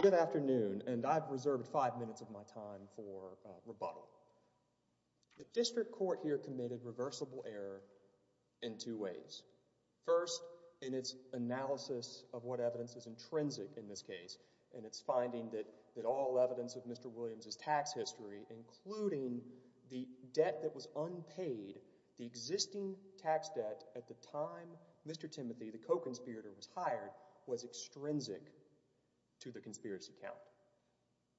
Good afternoon, and I've reserved five minutes of my time for rebuttal. The district court here committed reversible error in two ways. First, in its analysis of what evidence is intrinsic in this case, and its finding that all evidence of Mr. Williams' tax history, including the debt that was unpaid, the existing tax debt at the time Mr. Timothy, the co-conspirator, was hired, was extrinsic to the conspiracy count.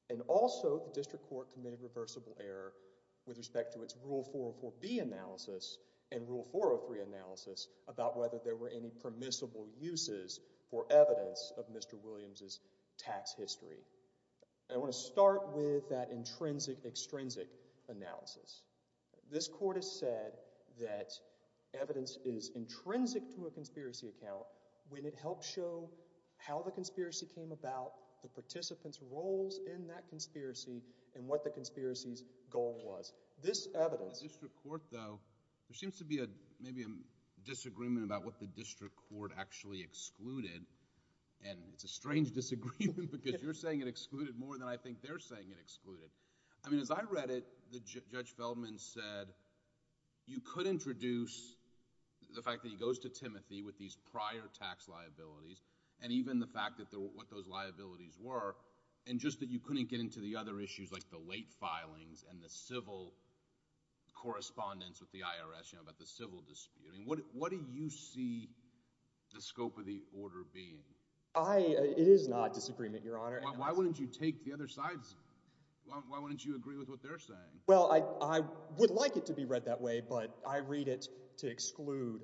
And also, the district court committed reversible error with respect to its Rule 404B analysis and Rule 403 analysis about whether there were any permissible uses for evidence of I want to start with that intrinsic-extrinsic analysis. This court has said that evidence is intrinsic to a conspiracy account when it helps show how the conspiracy came about, the participants' roles in that conspiracy, and what the conspiracy's goal was. This evidence— In the district court, though, there seems to be maybe a disagreement about what the district court actually excluded, and it's a strange disagreement because you're saying it excluded more than I think they're saying it excluded. I mean, as I read it, Judge Feldman said, you could introduce the fact that he goes to Timothy with these prior tax liabilities, and even the fact that what those liabilities were, and just that you couldn't get into the other issues like the late filings and the civil correspondence with the IRS, you know, about the civil dispute. What do you see the scope of the order being? I—it is not disagreement, Your Honor. Why wouldn't you take the other side's—why wouldn't you agree with what they're saying? Well, I would like it to be read that way, but I read it to exclude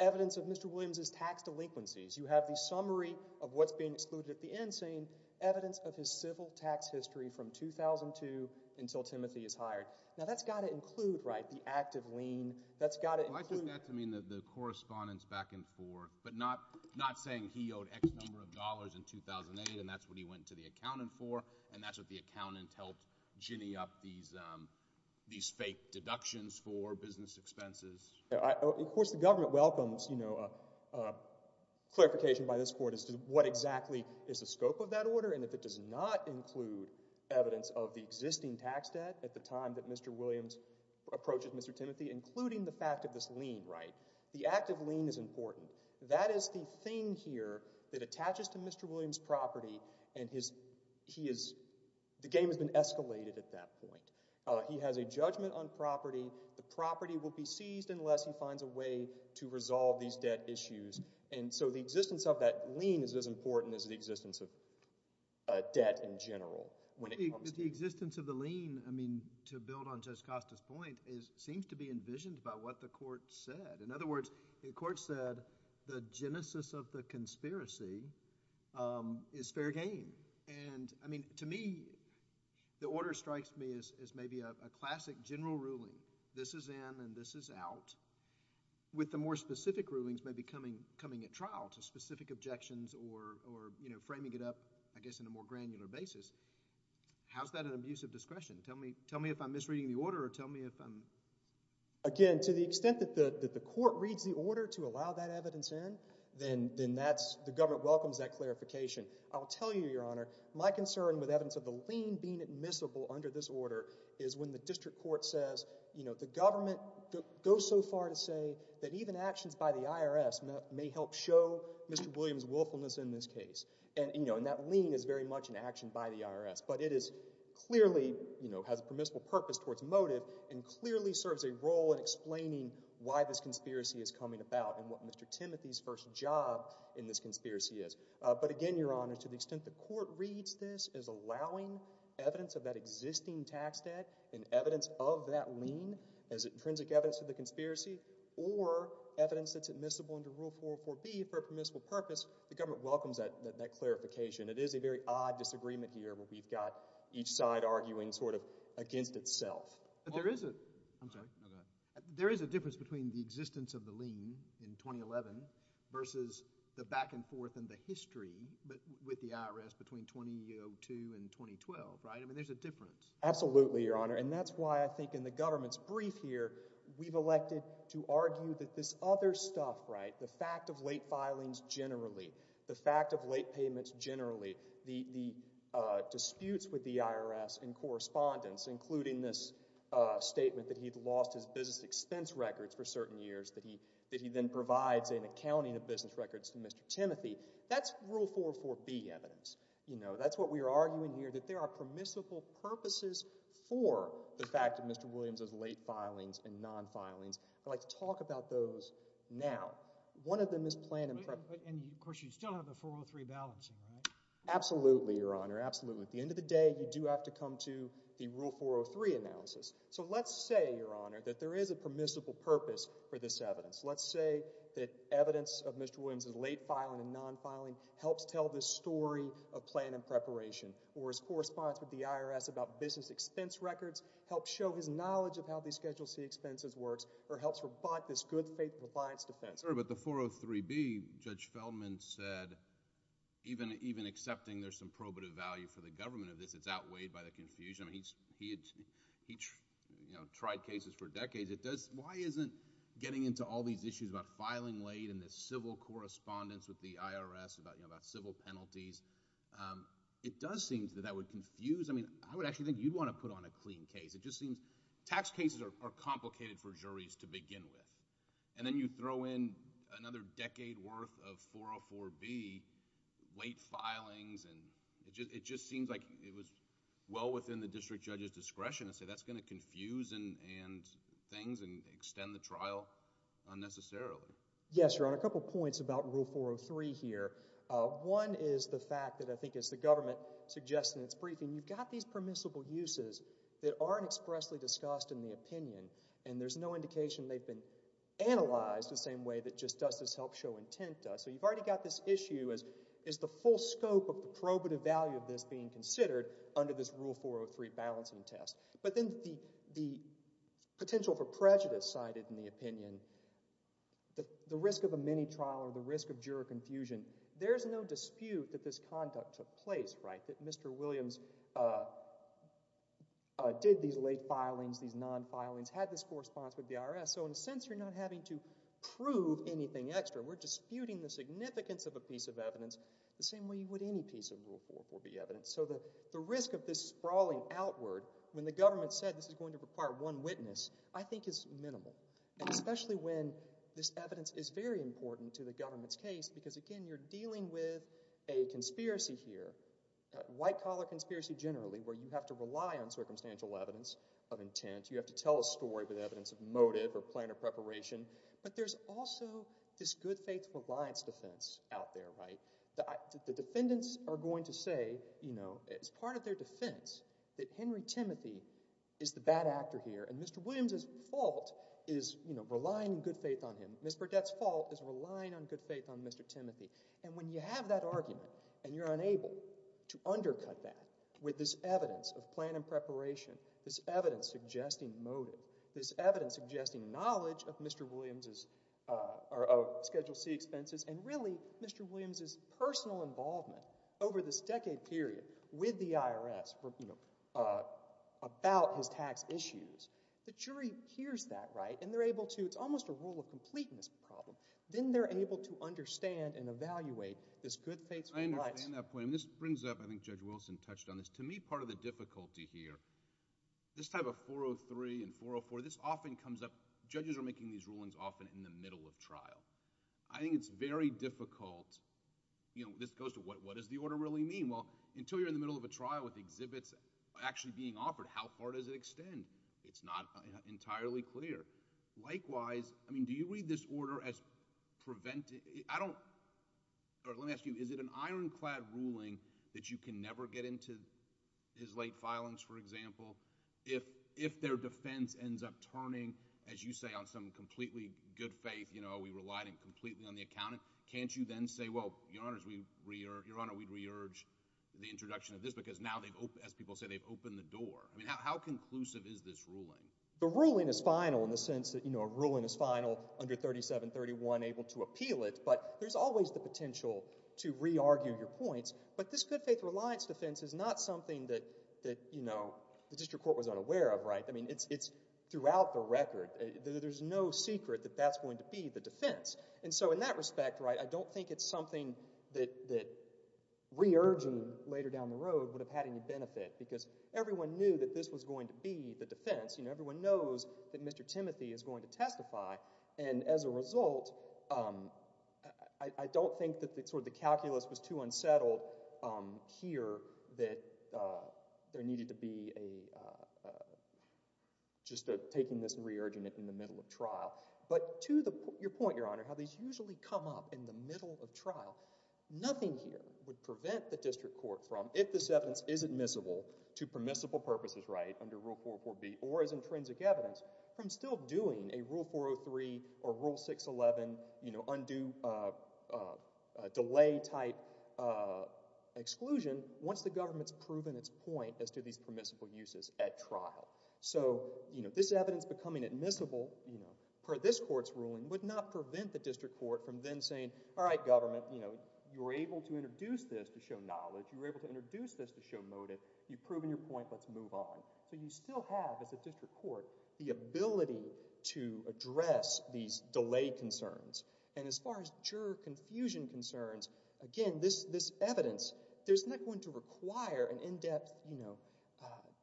evidence of Mr. Williams' tax delinquencies. You have the summary of what's being excluded at the end saying, evidence of his civil tax history from 2002 until Timothy is hired. Now, that's got to include, right, the active lien. That's got to include— Well, I took that to mean the correspondence back and forth, but not saying he owed X number of dollars in 2008, and that's what he went to the accountant for, and that's what the accountant helped ginny up these fake deductions for business expenses. Of course, the government welcomes, you know, clarification by this Court as to what exactly is the scope of that order, and if it does not include evidence of the existing tax debt at the time that Mr. Williams approaches Mr. Timothy, including the fact of this lien, right? The active lien is important. That is the thing here that attaches to Mr. Williams' property, and his—he is—the game has been escalated at that point. He has a judgment on property, the property will be seized unless he finds a way to resolve these debt issues, and so the existence of that lien is as important as the existence of debt in general. The existence of the lien, I mean, to build on Judge Costa's point, seems to be envisioned by what the Court said. In other words, the Court said the genesis of the conspiracy is fair game, and, I mean, to me, the order strikes me as maybe a classic general ruling. This is in and this is out, with the more specific rulings maybe coming at trial to specific objections or, you know, framing it up, I guess, in a more granular basis. How's that an abuse of discretion? Tell me if I'm misreading the order or tell me if I'm— Again, to the extent that the Court reads the order to allow that evidence in, then that's—the government welcomes that clarification. I'll tell you, Your Honor, my concern with evidence of the lien being admissible under this order is when the district court says, you know, the government goes so far to say that even actions by the IRS may help show Mr. Williams' willfulness in this case, and, you know, and that lien is very much an action by the IRS. But it is clearly, you know, has a permissible purpose towards motive and clearly serves a role in explaining why this conspiracy is coming about and what Mr. Timothy's first job in this conspiracy is. But again, Your Honor, to the extent the Court reads this as allowing evidence of that existing tax debt and evidence of that lien as intrinsic evidence of the conspiracy or evidence that's admissible under Rule 404B for a permissible purpose, the government welcomes that clarification. It is a very odd disagreement here where we've got each side arguing sort of against itself. But there is a—I'm sorry, go ahead. There is a difference between the existence of the lien in 2011 versus the back-and-forth in the history with the IRS between 2002 and 2012, right? I mean, there's a difference. Absolutely, Your Honor. And that's why I think in the government's brief here, we've elected to argue that this other stuff, right, the fact of late filings generally, the fact of late payments generally, the disputes with the IRS in correspondence, including this statement that he'd lost his business expense records for certain years, that he then provides an accounting of business records to Mr. Timothy, that's Rule 404B evidence, you know? That's what we are arguing here, that there are permissible purposes for the fact of Mr. Williams' late filings and non-filings. I'd like to talk about those now. One of them is planned— And, of course, you still have the 403 balancing, right? Absolutely, Your Honor. Absolutely. At the end of the day, you do have to come to the Rule 403 analysis. So let's say, Your Honor, that there is a permissible purpose for this evidence. Let's say that evidence of Mr. Williams' late filing and non-filing helps tell the story of plan and preparation, or his correspondence with the IRS about business expense records helps show his knowledge of how these Schedule C expenses works, or helps rebut this good faith compliance defense. I'm sorry, but the 403B, Judge Feldman said, even accepting there's some probative value for the government of this, it's outweighed by the confusion. He tried cases for decades. Why isn't getting into all these issues about filing late and the civil correspondence with the IRS about civil penalties, it does seem that that would confuse—I mean, I would actually think you'd want to put on a clean case. It just seems tax cases are complicated for juries to begin with, and then you throw in another decade worth of 404B late filings, and it just seems like it was well within the district judge's discretion to say that's going to confuse things and extend the trial unnecessarily. Yes, Your Honor. A couple of points about Rule 403 here. One is the fact that I think as the government suggests in its briefing, you've got these permissible uses that aren't expressly discussed in the opinion, and there's no indication they've been analyzed the same way that just does this help show intent does. So you've already got this issue as is the full scope of the probative value of this being considered under this Rule 403 balancing test. But then the potential for prejudice cited in the opinion, the risk of a mini-trial or the risk of juror confusion, there's no dispute that this conduct took place, right, that Mr. Williams did these late filings, these non-filings, had this correspondence with the IRS. So in a sense, you're not having to prove anything extra. We're disputing the significance of a piece of evidence the same way you would any piece of Rule 404B evidence. So the risk of this sprawling outward, when the government said this is going to require one witness, I think is minimal, and especially when this evidence is very important to the government's case because, again, you're dealing with a conspiracy here, a white-collar conspiracy generally, where you have to rely on circumstantial evidence of intent. You have to tell a story with evidence of motive or plan of preparation. But there's also this good-faith reliance defense out there, right? The defendants are going to say, you know, as part of their defense that Henry Timothy is the bad actor here and Mr. Williams' fault is, you know, relying on good faith on him. Ms. Burdette's fault is relying on good faith on Mr. Timothy. And when you have that argument and you're unable to undercut that with this evidence of plan and preparation, this evidence suggesting motive, this evidence suggesting knowledge of Mr. Williams' Schedule C expenses, and really Mr. Williams' personal involvement over this decade period with the IRS, you know, about his tax issues, the jury hears that, right? And they're able to, it's almost a rule of completeness problem. Then they're able to understand and evaluate this good-faith reliance. I understand that point. And this brings up, I think Judge Wilson touched on this. To me, part of the difficulty here, this type of 403 and 404, this often comes up, judges are making these rulings often in the middle of trial. I think it's very difficult, you know, this goes to what does the order really mean? Well, until you're in the middle of a trial with exhibits actually being offered, how far does it extend? It's not entirely clear. Likewise, I mean, do you read this order as preventing, I don't, or let me ask you, is it an ironclad ruling that you can never get into his late filings, for example? If their defense ends up turning, as you say, on some completely good-faith, you know, we relied completely on the accountant, can't you then say, well, Your Honor, we re-urge, Your Honor, we re-urge the introduction of this because now they've, as people say, they've opened the door. I mean, how conclusive is this ruling? The ruling is final in the sense that, you know, a ruling is final under 3731, able to re-argue your points. But this good-faith reliance defense is not something that, you know, the district court was unaware of, right? I mean, it's throughout the record. There's no secret that that's going to be the defense. And so in that respect, right, I don't think it's something that re-urging later down the road would have had any benefit because everyone knew that this was going to be the defense. You know, everyone knows that Mr. Timothy is going to testify. And as a result, I don't think that sort of the calculus was too unsettled here that there needed to be a, just taking this and re-urging it in the middle of trial. But to your point, Your Honor, how these usually come up in the middle of trial, nothing here would prevent the district court from, if this evidence is admissible to permissible purposes, right, under Rule 404B or as intrinsic evidence, from still doing a Rule 403 or Rule 611, you know, undue delay-type exclusion once the government's proven its point as to these permissible uses at trial. So, you know, this evidence becoming admissible, you know, per this court's ruling would not prevent the district court from then saying, all right, government, you know, you were able to introduce this to show knowledge, you were able to introduce this to show motive, you've proven your point, let's move on. So you still have, as a district court, the ability to address these delay concerns. And as far as juror confusion concerns, again, this evidence, there's not going to require an in-depth, you know,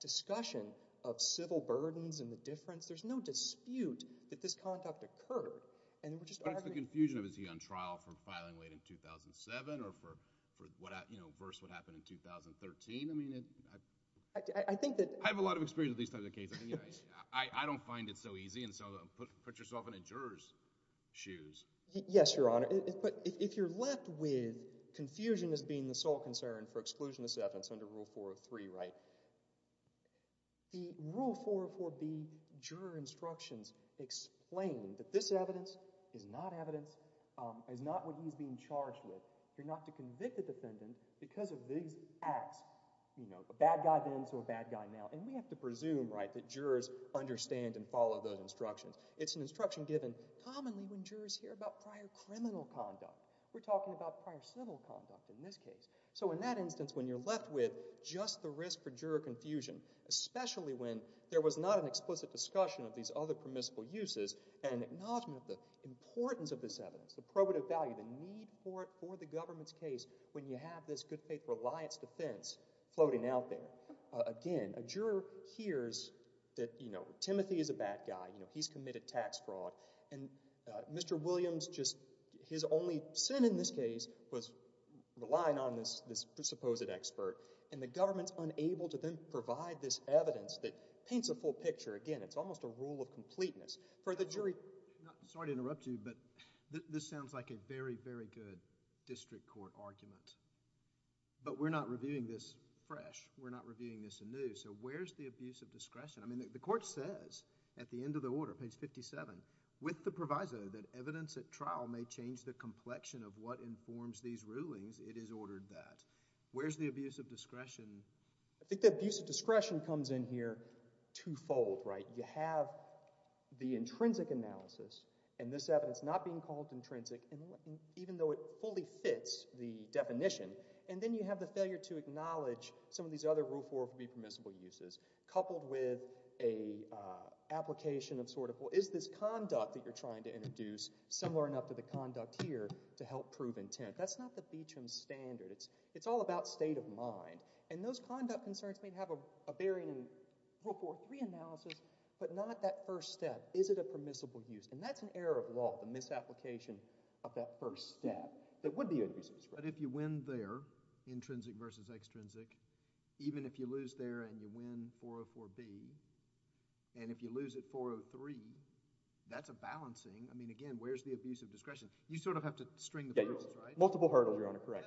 discussion of civil burdens and the difference. There's no dispute that this conduct occurred. And we're just arguing. But if the confusion of is he on trial for filing late in 2007 or for, you know, reverse what happened in 2013, I mean, I have a lot of experience with these types of cases. I don't find it so easy, and so put yourself in a juror's shoes. Yes, Your Honor, but if you're left with confusion as being the sole concern for exclusionist evidence under Rule 403, right, the Rule 404B juror instructions explain that this evidence is not evidence, is not what he's being charged with. You're not to convict a defendant because of these acts, you know, a bad guy then, so a bad guy now. And we have to presume, right, that jurors understand and follow those instructions. It's an instruction given commonly when jurors hear about prior criminal conduct. We're talking about prior civil conduct in this case. So in that instance, when you're left with just the risk for juror confusion, especially when there was not an explicit discussion of these other permissible uses and acknowledgment of the importance of this evidence, the probative value, the need for it for the government's case when you have this good faith reliance defense floating out there, again, a juror hears that, you know, Timothy is a bad guy, you know, he's committed tax fraud, and Mr. Williams just, his only sin in this case was relying on this supposed expert, and the government's unable to then provide this evidence that paints a full picture, again, it's almost a rule of completeness. For the jury— Sorry to interrupt you, but this sounds like a very, very good district court argument. But we're not reviewing this fresh, we're not reviewing this anew, so where's the abuse of discretion? I mean, the court says, at the end of the order, page 57, with the proviso that evidence at trial may change the complexion of what informs these rulings, it is ordered that. Where's the abuse of discretion? I think the abuse of discretion comes in here two-fold, right? You have the intrinsic analysis, and this evidence not being called intrinsic, even though it fully fits the definition, and then you have the failure to acknowledge some of these other Rule 4 permissible uses, coupled with an application of sort of, well, is this conduct that you're trying to introduce similar enough to the conduct here to help prove intent? That's not the BCHM standard, it's all about state of mind, and those conduct concerns may have a bearing in Rule 4.3 analysis, but not that first step, is it a permissible use? And that's an error of law, the misapplication of that first step, that would be an abuse of discretion. But if you win there, intrinsic versus extrinsic, even if you lose there and you win 404B, and if you lose at 403, that's a balancing, I mean, again, where's the abuse of discretion? You sort of have to string the hurdles, right? Multiple hurdles, Your Honor, correct.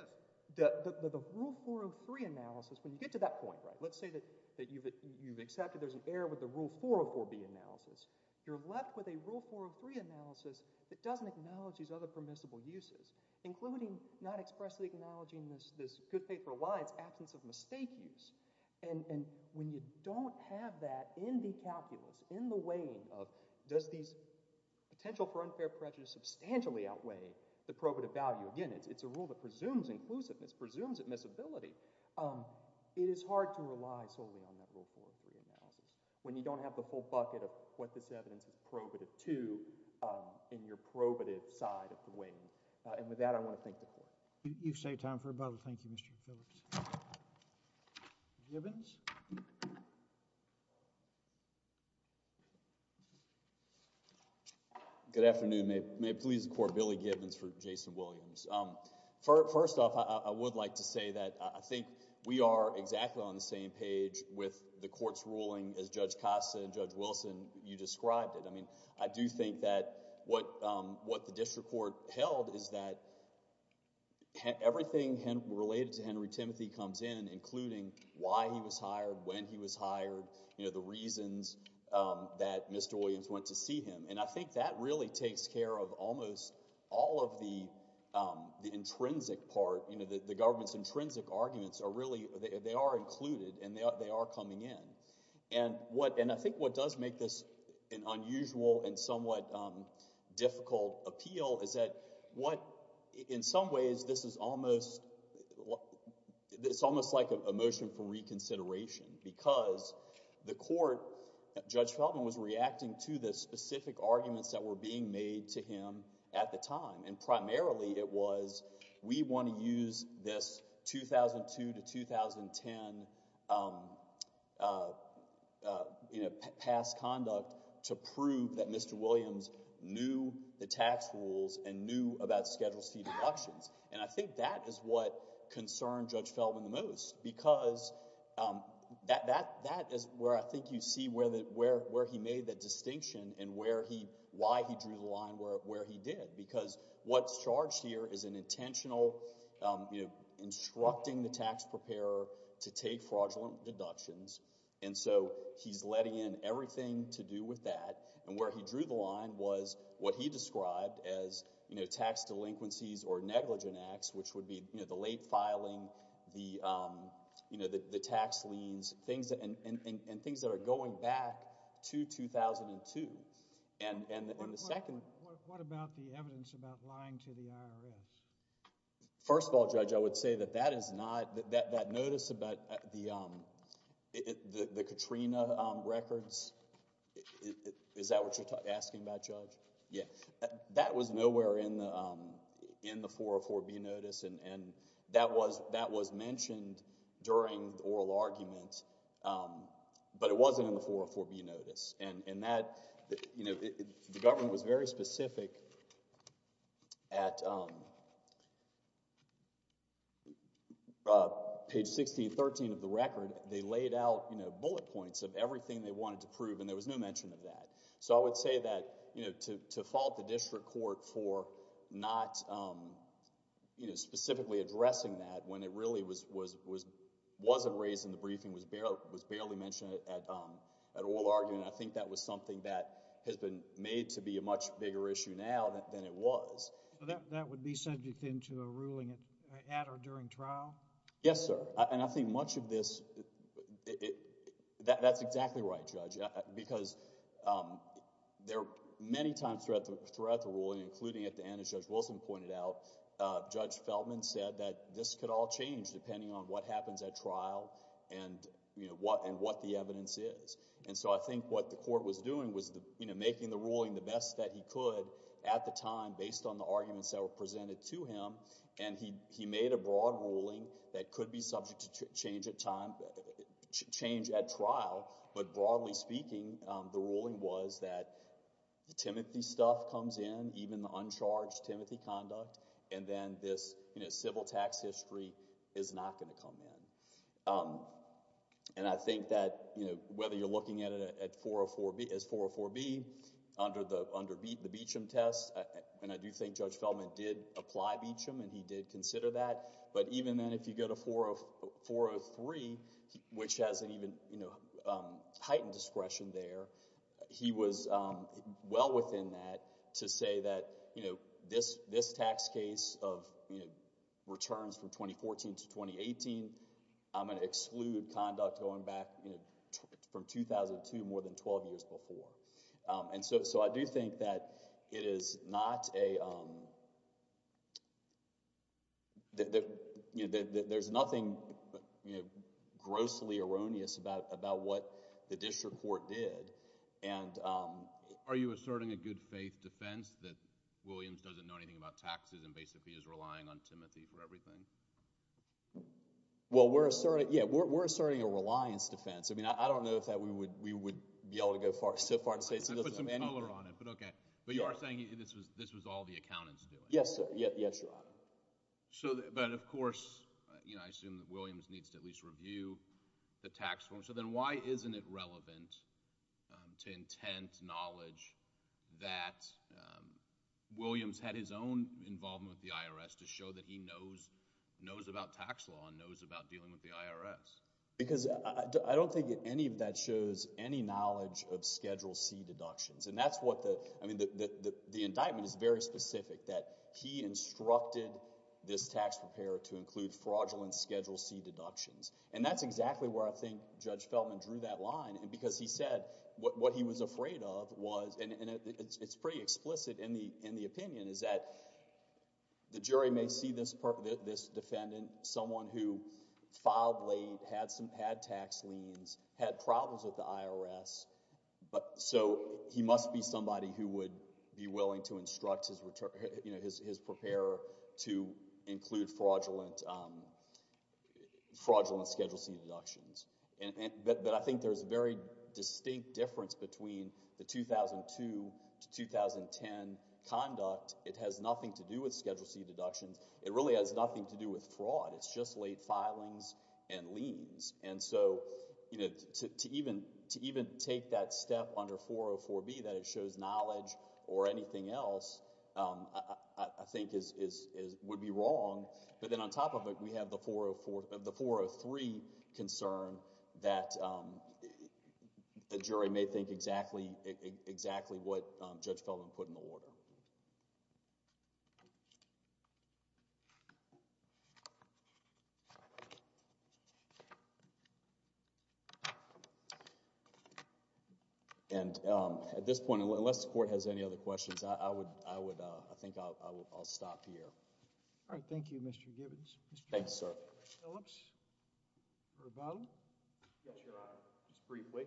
The Rule 403 analysis, when you get to that point, right, let's say that you've accepted there's an error with the Rule 404B analysis, you're left with a Rule 403 analysis that doesn't acknowledge these other permissible uses, including not expressly acknowledging this good faith reliance absence of mistake use. And when you don't have that in the calculus, in the weighing of does these potential for unfair prejudice substantially outweigh the probative value, again, it's a rule that is inclusiveness, presumes admissibility, it is hard to rely solely on that Rule 403 analysis when you don't have the whole bucket of what this evidence is probative to in your probative side of the weighing. And with that, I want to thank the Court. You've saved time for a bubble. Thank you, Mr. Phillips. Gibbons? Good afternoon. May it please the Court, Billy Gibbons for Jason Williams. First off, I would like to say that I think we are exactly on the same page with the Court's ruling as Judge Costa and Judge Wilson, you described it. I mean, I do think that what the district court held is that everything related to Henry Timothy comes in, including why he was hired, when he was hired, you know, the reasons that Mr. Williams went to see him. And I think that really takes care of almost all of the intrinsic part, you know, the government's intrinsic arguments are really, they are included and they are coming in. And what, and I think what does make this an unusual and somewhat difficult appeal is that what, in some ways, this is almost, it's almost like a motion for reconsideration because the Court, Judge Feldman was reacting to the specific arguments that were being made to him at the time. And primarily it was, we want to use this 2002 to 2010, you know, past conduct to prove that Mr. Williams knew the tax rules and knew about Schedule C deductions. And I think that is what concerned Judge Feldman the most because that is where I think you see where he made the distinction and where he, why he drew the line where he did. Because what's charged here is an intentional, you know, instructing the tax preparer to take fraudulent deductions. And so he's letting in everything to do with that and where he drew the line was what he did with the college in Acts which would be, you know, the late filing, the, you know, the tax liens, things that, and things that are going back to 2002. And the second... What about the evidence about lying to the IRS? First of all, Judge, I would say that that is not, that notice about the Katrina records, is that what you're asking about, Judge? Yeah. That was nowhere in the 404B notice and that was mentioned during the oral argument. But it wasn't in the 404B notice. And that, you know, the government was very specific at page 16, 13 of the record. They laid out, you know, bullet points of everything they wanted to prove and there was no mention of that. So I would say that, you know, to fault the district court for not, you know, specifically addressing that when it really was, wasn't raised in the briefing, was barely mentioned at oral argument, I think that was something that has been made to be a much bigger issue now than it was. That would be subject then to a ruling at or during trial? Yes, sir. And I think much of this, that's exactly right, Judge, because there, many times throughout the ruling, including at the end as Judge Wilson pointed out, Judge Feltman said that this could all change depending on what happens at trial and, you know, what the evidence is. And so I think what the court was doing was, you know, making the ruling the best that he could at the time based on the arguments that were presented to him and he made a broad ruling that could be subject to change at time, change at trial, but broadly speaking, the ruling was that the Timothy stuff comes in, even the uncharged Timothy conduct, and then this, you know, civil tax history is not going to come in. And I think that, you know, whether you're looking at it as 404B under the Beecham test, and I do think Judge Feltman did apply Beecham and he did consider that, but even then if you go to 403, which has an even, you know, heightened discretion there, he was well within that to say that, you know, this tax case of, you know, returns from 2014 to 2018, I'm going to exclude conduct going back, you know, from 2002 more than 12 years before. And so I do think that it is not a, you know, there's nothing, you know, grossly erroneous about what the district court did and... Are you asserting a good faith defense that Williams doesn't know anything about taxes and basically is relying on Timothy for everything? Well, we're asserting, yeah, we're asserting a reliance defense. I mean, I don't know if that we would be able to go so far as to say he doesn't know anything. I put some color on it, but okay. But you are saying this was all the accountant's doing? Yes, sir. Yes, Your Honor. So, but of course, you know, I assume that Williams needs to at least review the tax form. So then why isn't it relevant to intent, knowledge that Williams had his own involvement with the IRS to show that he knows about tax law and knows about dealing with the IRS? Because I don't think any of that shows any knowledge of Schedule C deductions. And that's what the, I mean, the indictment is very specific, that he instructed this tax preparer to include fraudulent Schedule C deductions. And that's exactly where I think Judge Feltman drew that line, because he said what he was afraid of was, and it's pretty explicit in the opinion, is that the jury may see this defendant, someone who filed late, had some, had tax liens, had problems with the IRS, but so he must be somebody who would be willing to instruct his return, you know, his preparer to include fraudulent Schedule C deductions. But I think there's a very distinct difference between the 2002 to 2010 conduct. It has nothing to do with Schedule C deductions. It really has nothing to do with fraud. It's just late filings and liens. And so, you know, to even take that step under 404B, that it shows knowledge or anything else I think would be wrong, but then on top of it, we have the 403 concern that the jury may think exactly what Judge Feltman put in the order. And at this point, unless the court has any other questions, I would, I think I'll stop here. All right. Thank you, Mr. Gibbons. Thank you, sir. Phillips? Yes, Your Honor. Just briefly.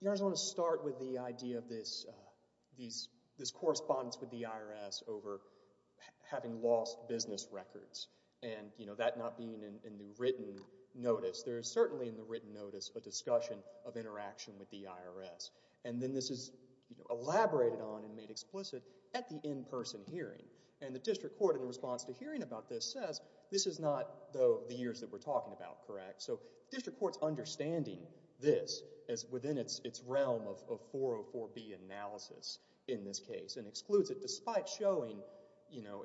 Your Honor, I just want to start with the idea of this correspondence with the IRS over having lost business records and, you know, that not being in the written notice. There is certainly in the written notice a discussion of interaction with the IRS. And then this is, you know, elaborated on and made explicit at the in-person hearing. And the district court, in response to hearing about this, says this is not the years that we're talking about, correct? So district court's understanding this as within its realm of 404B analysis in this case and excludes it despite showing, you know,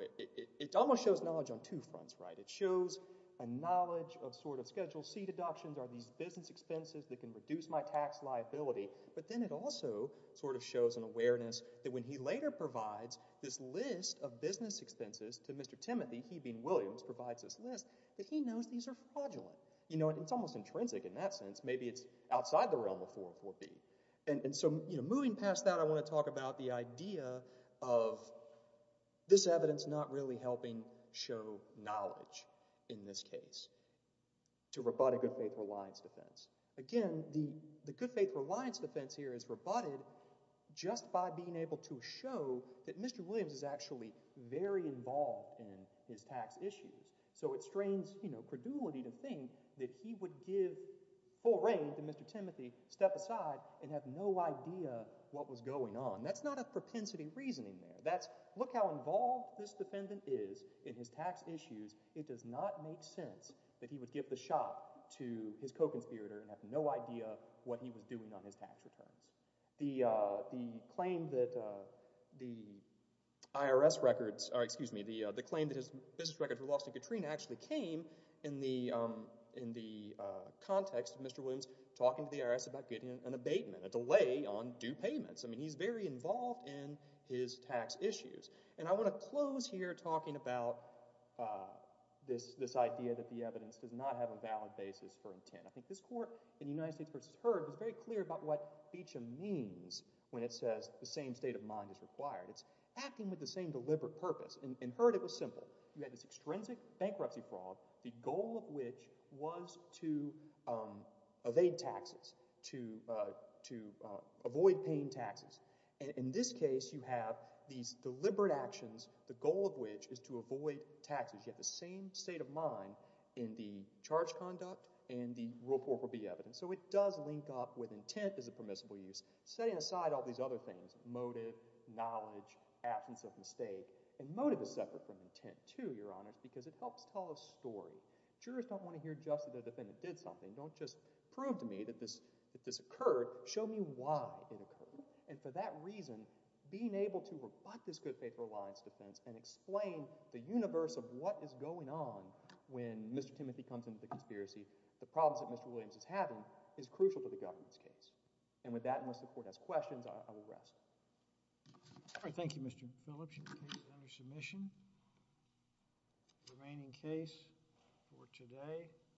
it almost shows knowledge on two fronts, right? It shows a knowledge of sort of Schedule C deductions, are these business expenses that can reduce my tax liability? But then it also sort of shows an awareness that when he later provides this list of business expenses to Mr. Timothy, he being Williams, provides this list, that he knows these are fraudulent. You know, it's almost intrinsic in that sense. Maybe it's outside the realm of 404B. And so, you know, moving past that, I want to talk about the idea of this evidence not really helping show knowledge in this case to rebut a good faith reliance defense. Again, the good faith reliance defense here is rebutted just by being able to show that Mr. Williams is actually very involved in his tax issues. So it strains, you know, credulity to think that he would give full reign to Mr. Timothy, step aside, and have no idea what was going on. That's not a propensity reasoning there. That's, look how involved this defendant is in his tax issues. It does not make sense that he would give the shot to his co-conspirator and have no idea what he was doing on his tax returns. The claim that the IRS records, or excuse me, the claim that his business records were lost in Katrina actually came in the context of Mr. Williams talking to the IRS about getting an abatement, a delay on due payments. I mean, he's very involved in his tax issues. And I want to close here talking about this idea that the evidence does not have a valid basis for intent. I think this court in the United States v. Heard was very clear about what feature means when it says the same state of mind is required. It's acting with the same deliberate purpose. In Heard it was simple. You had this extrinsic bankruptcy fraud, the goal of which was to evade taxes, to avoid paying taxes. In this case, you have these deliberate actions, the goal of which is to avoid taxes. You have the same state of mind in the charge conduct and the rule of court will be evident. So it does link up with intent as a permissible use, setting aside all these other things, motive, knowledge, absence of mistake. And motive is separate from intent too, Your Honors, because it helps tell a story. Jurors don't want to hear just that their defendant did something. Don't just prove to me that this occurred. Show me why it occurred. And for that reason, being able to rebut this good faith reliance defense and explain the what is going on when Mr. Timothy comes into the conspiracy, the problems that Mr. Williams is having, is crucial to the government's case. And with that, unless the Court has questions, I will rest. Thank you, Mr. Phillips. Your case is under submission. The remaining case for today.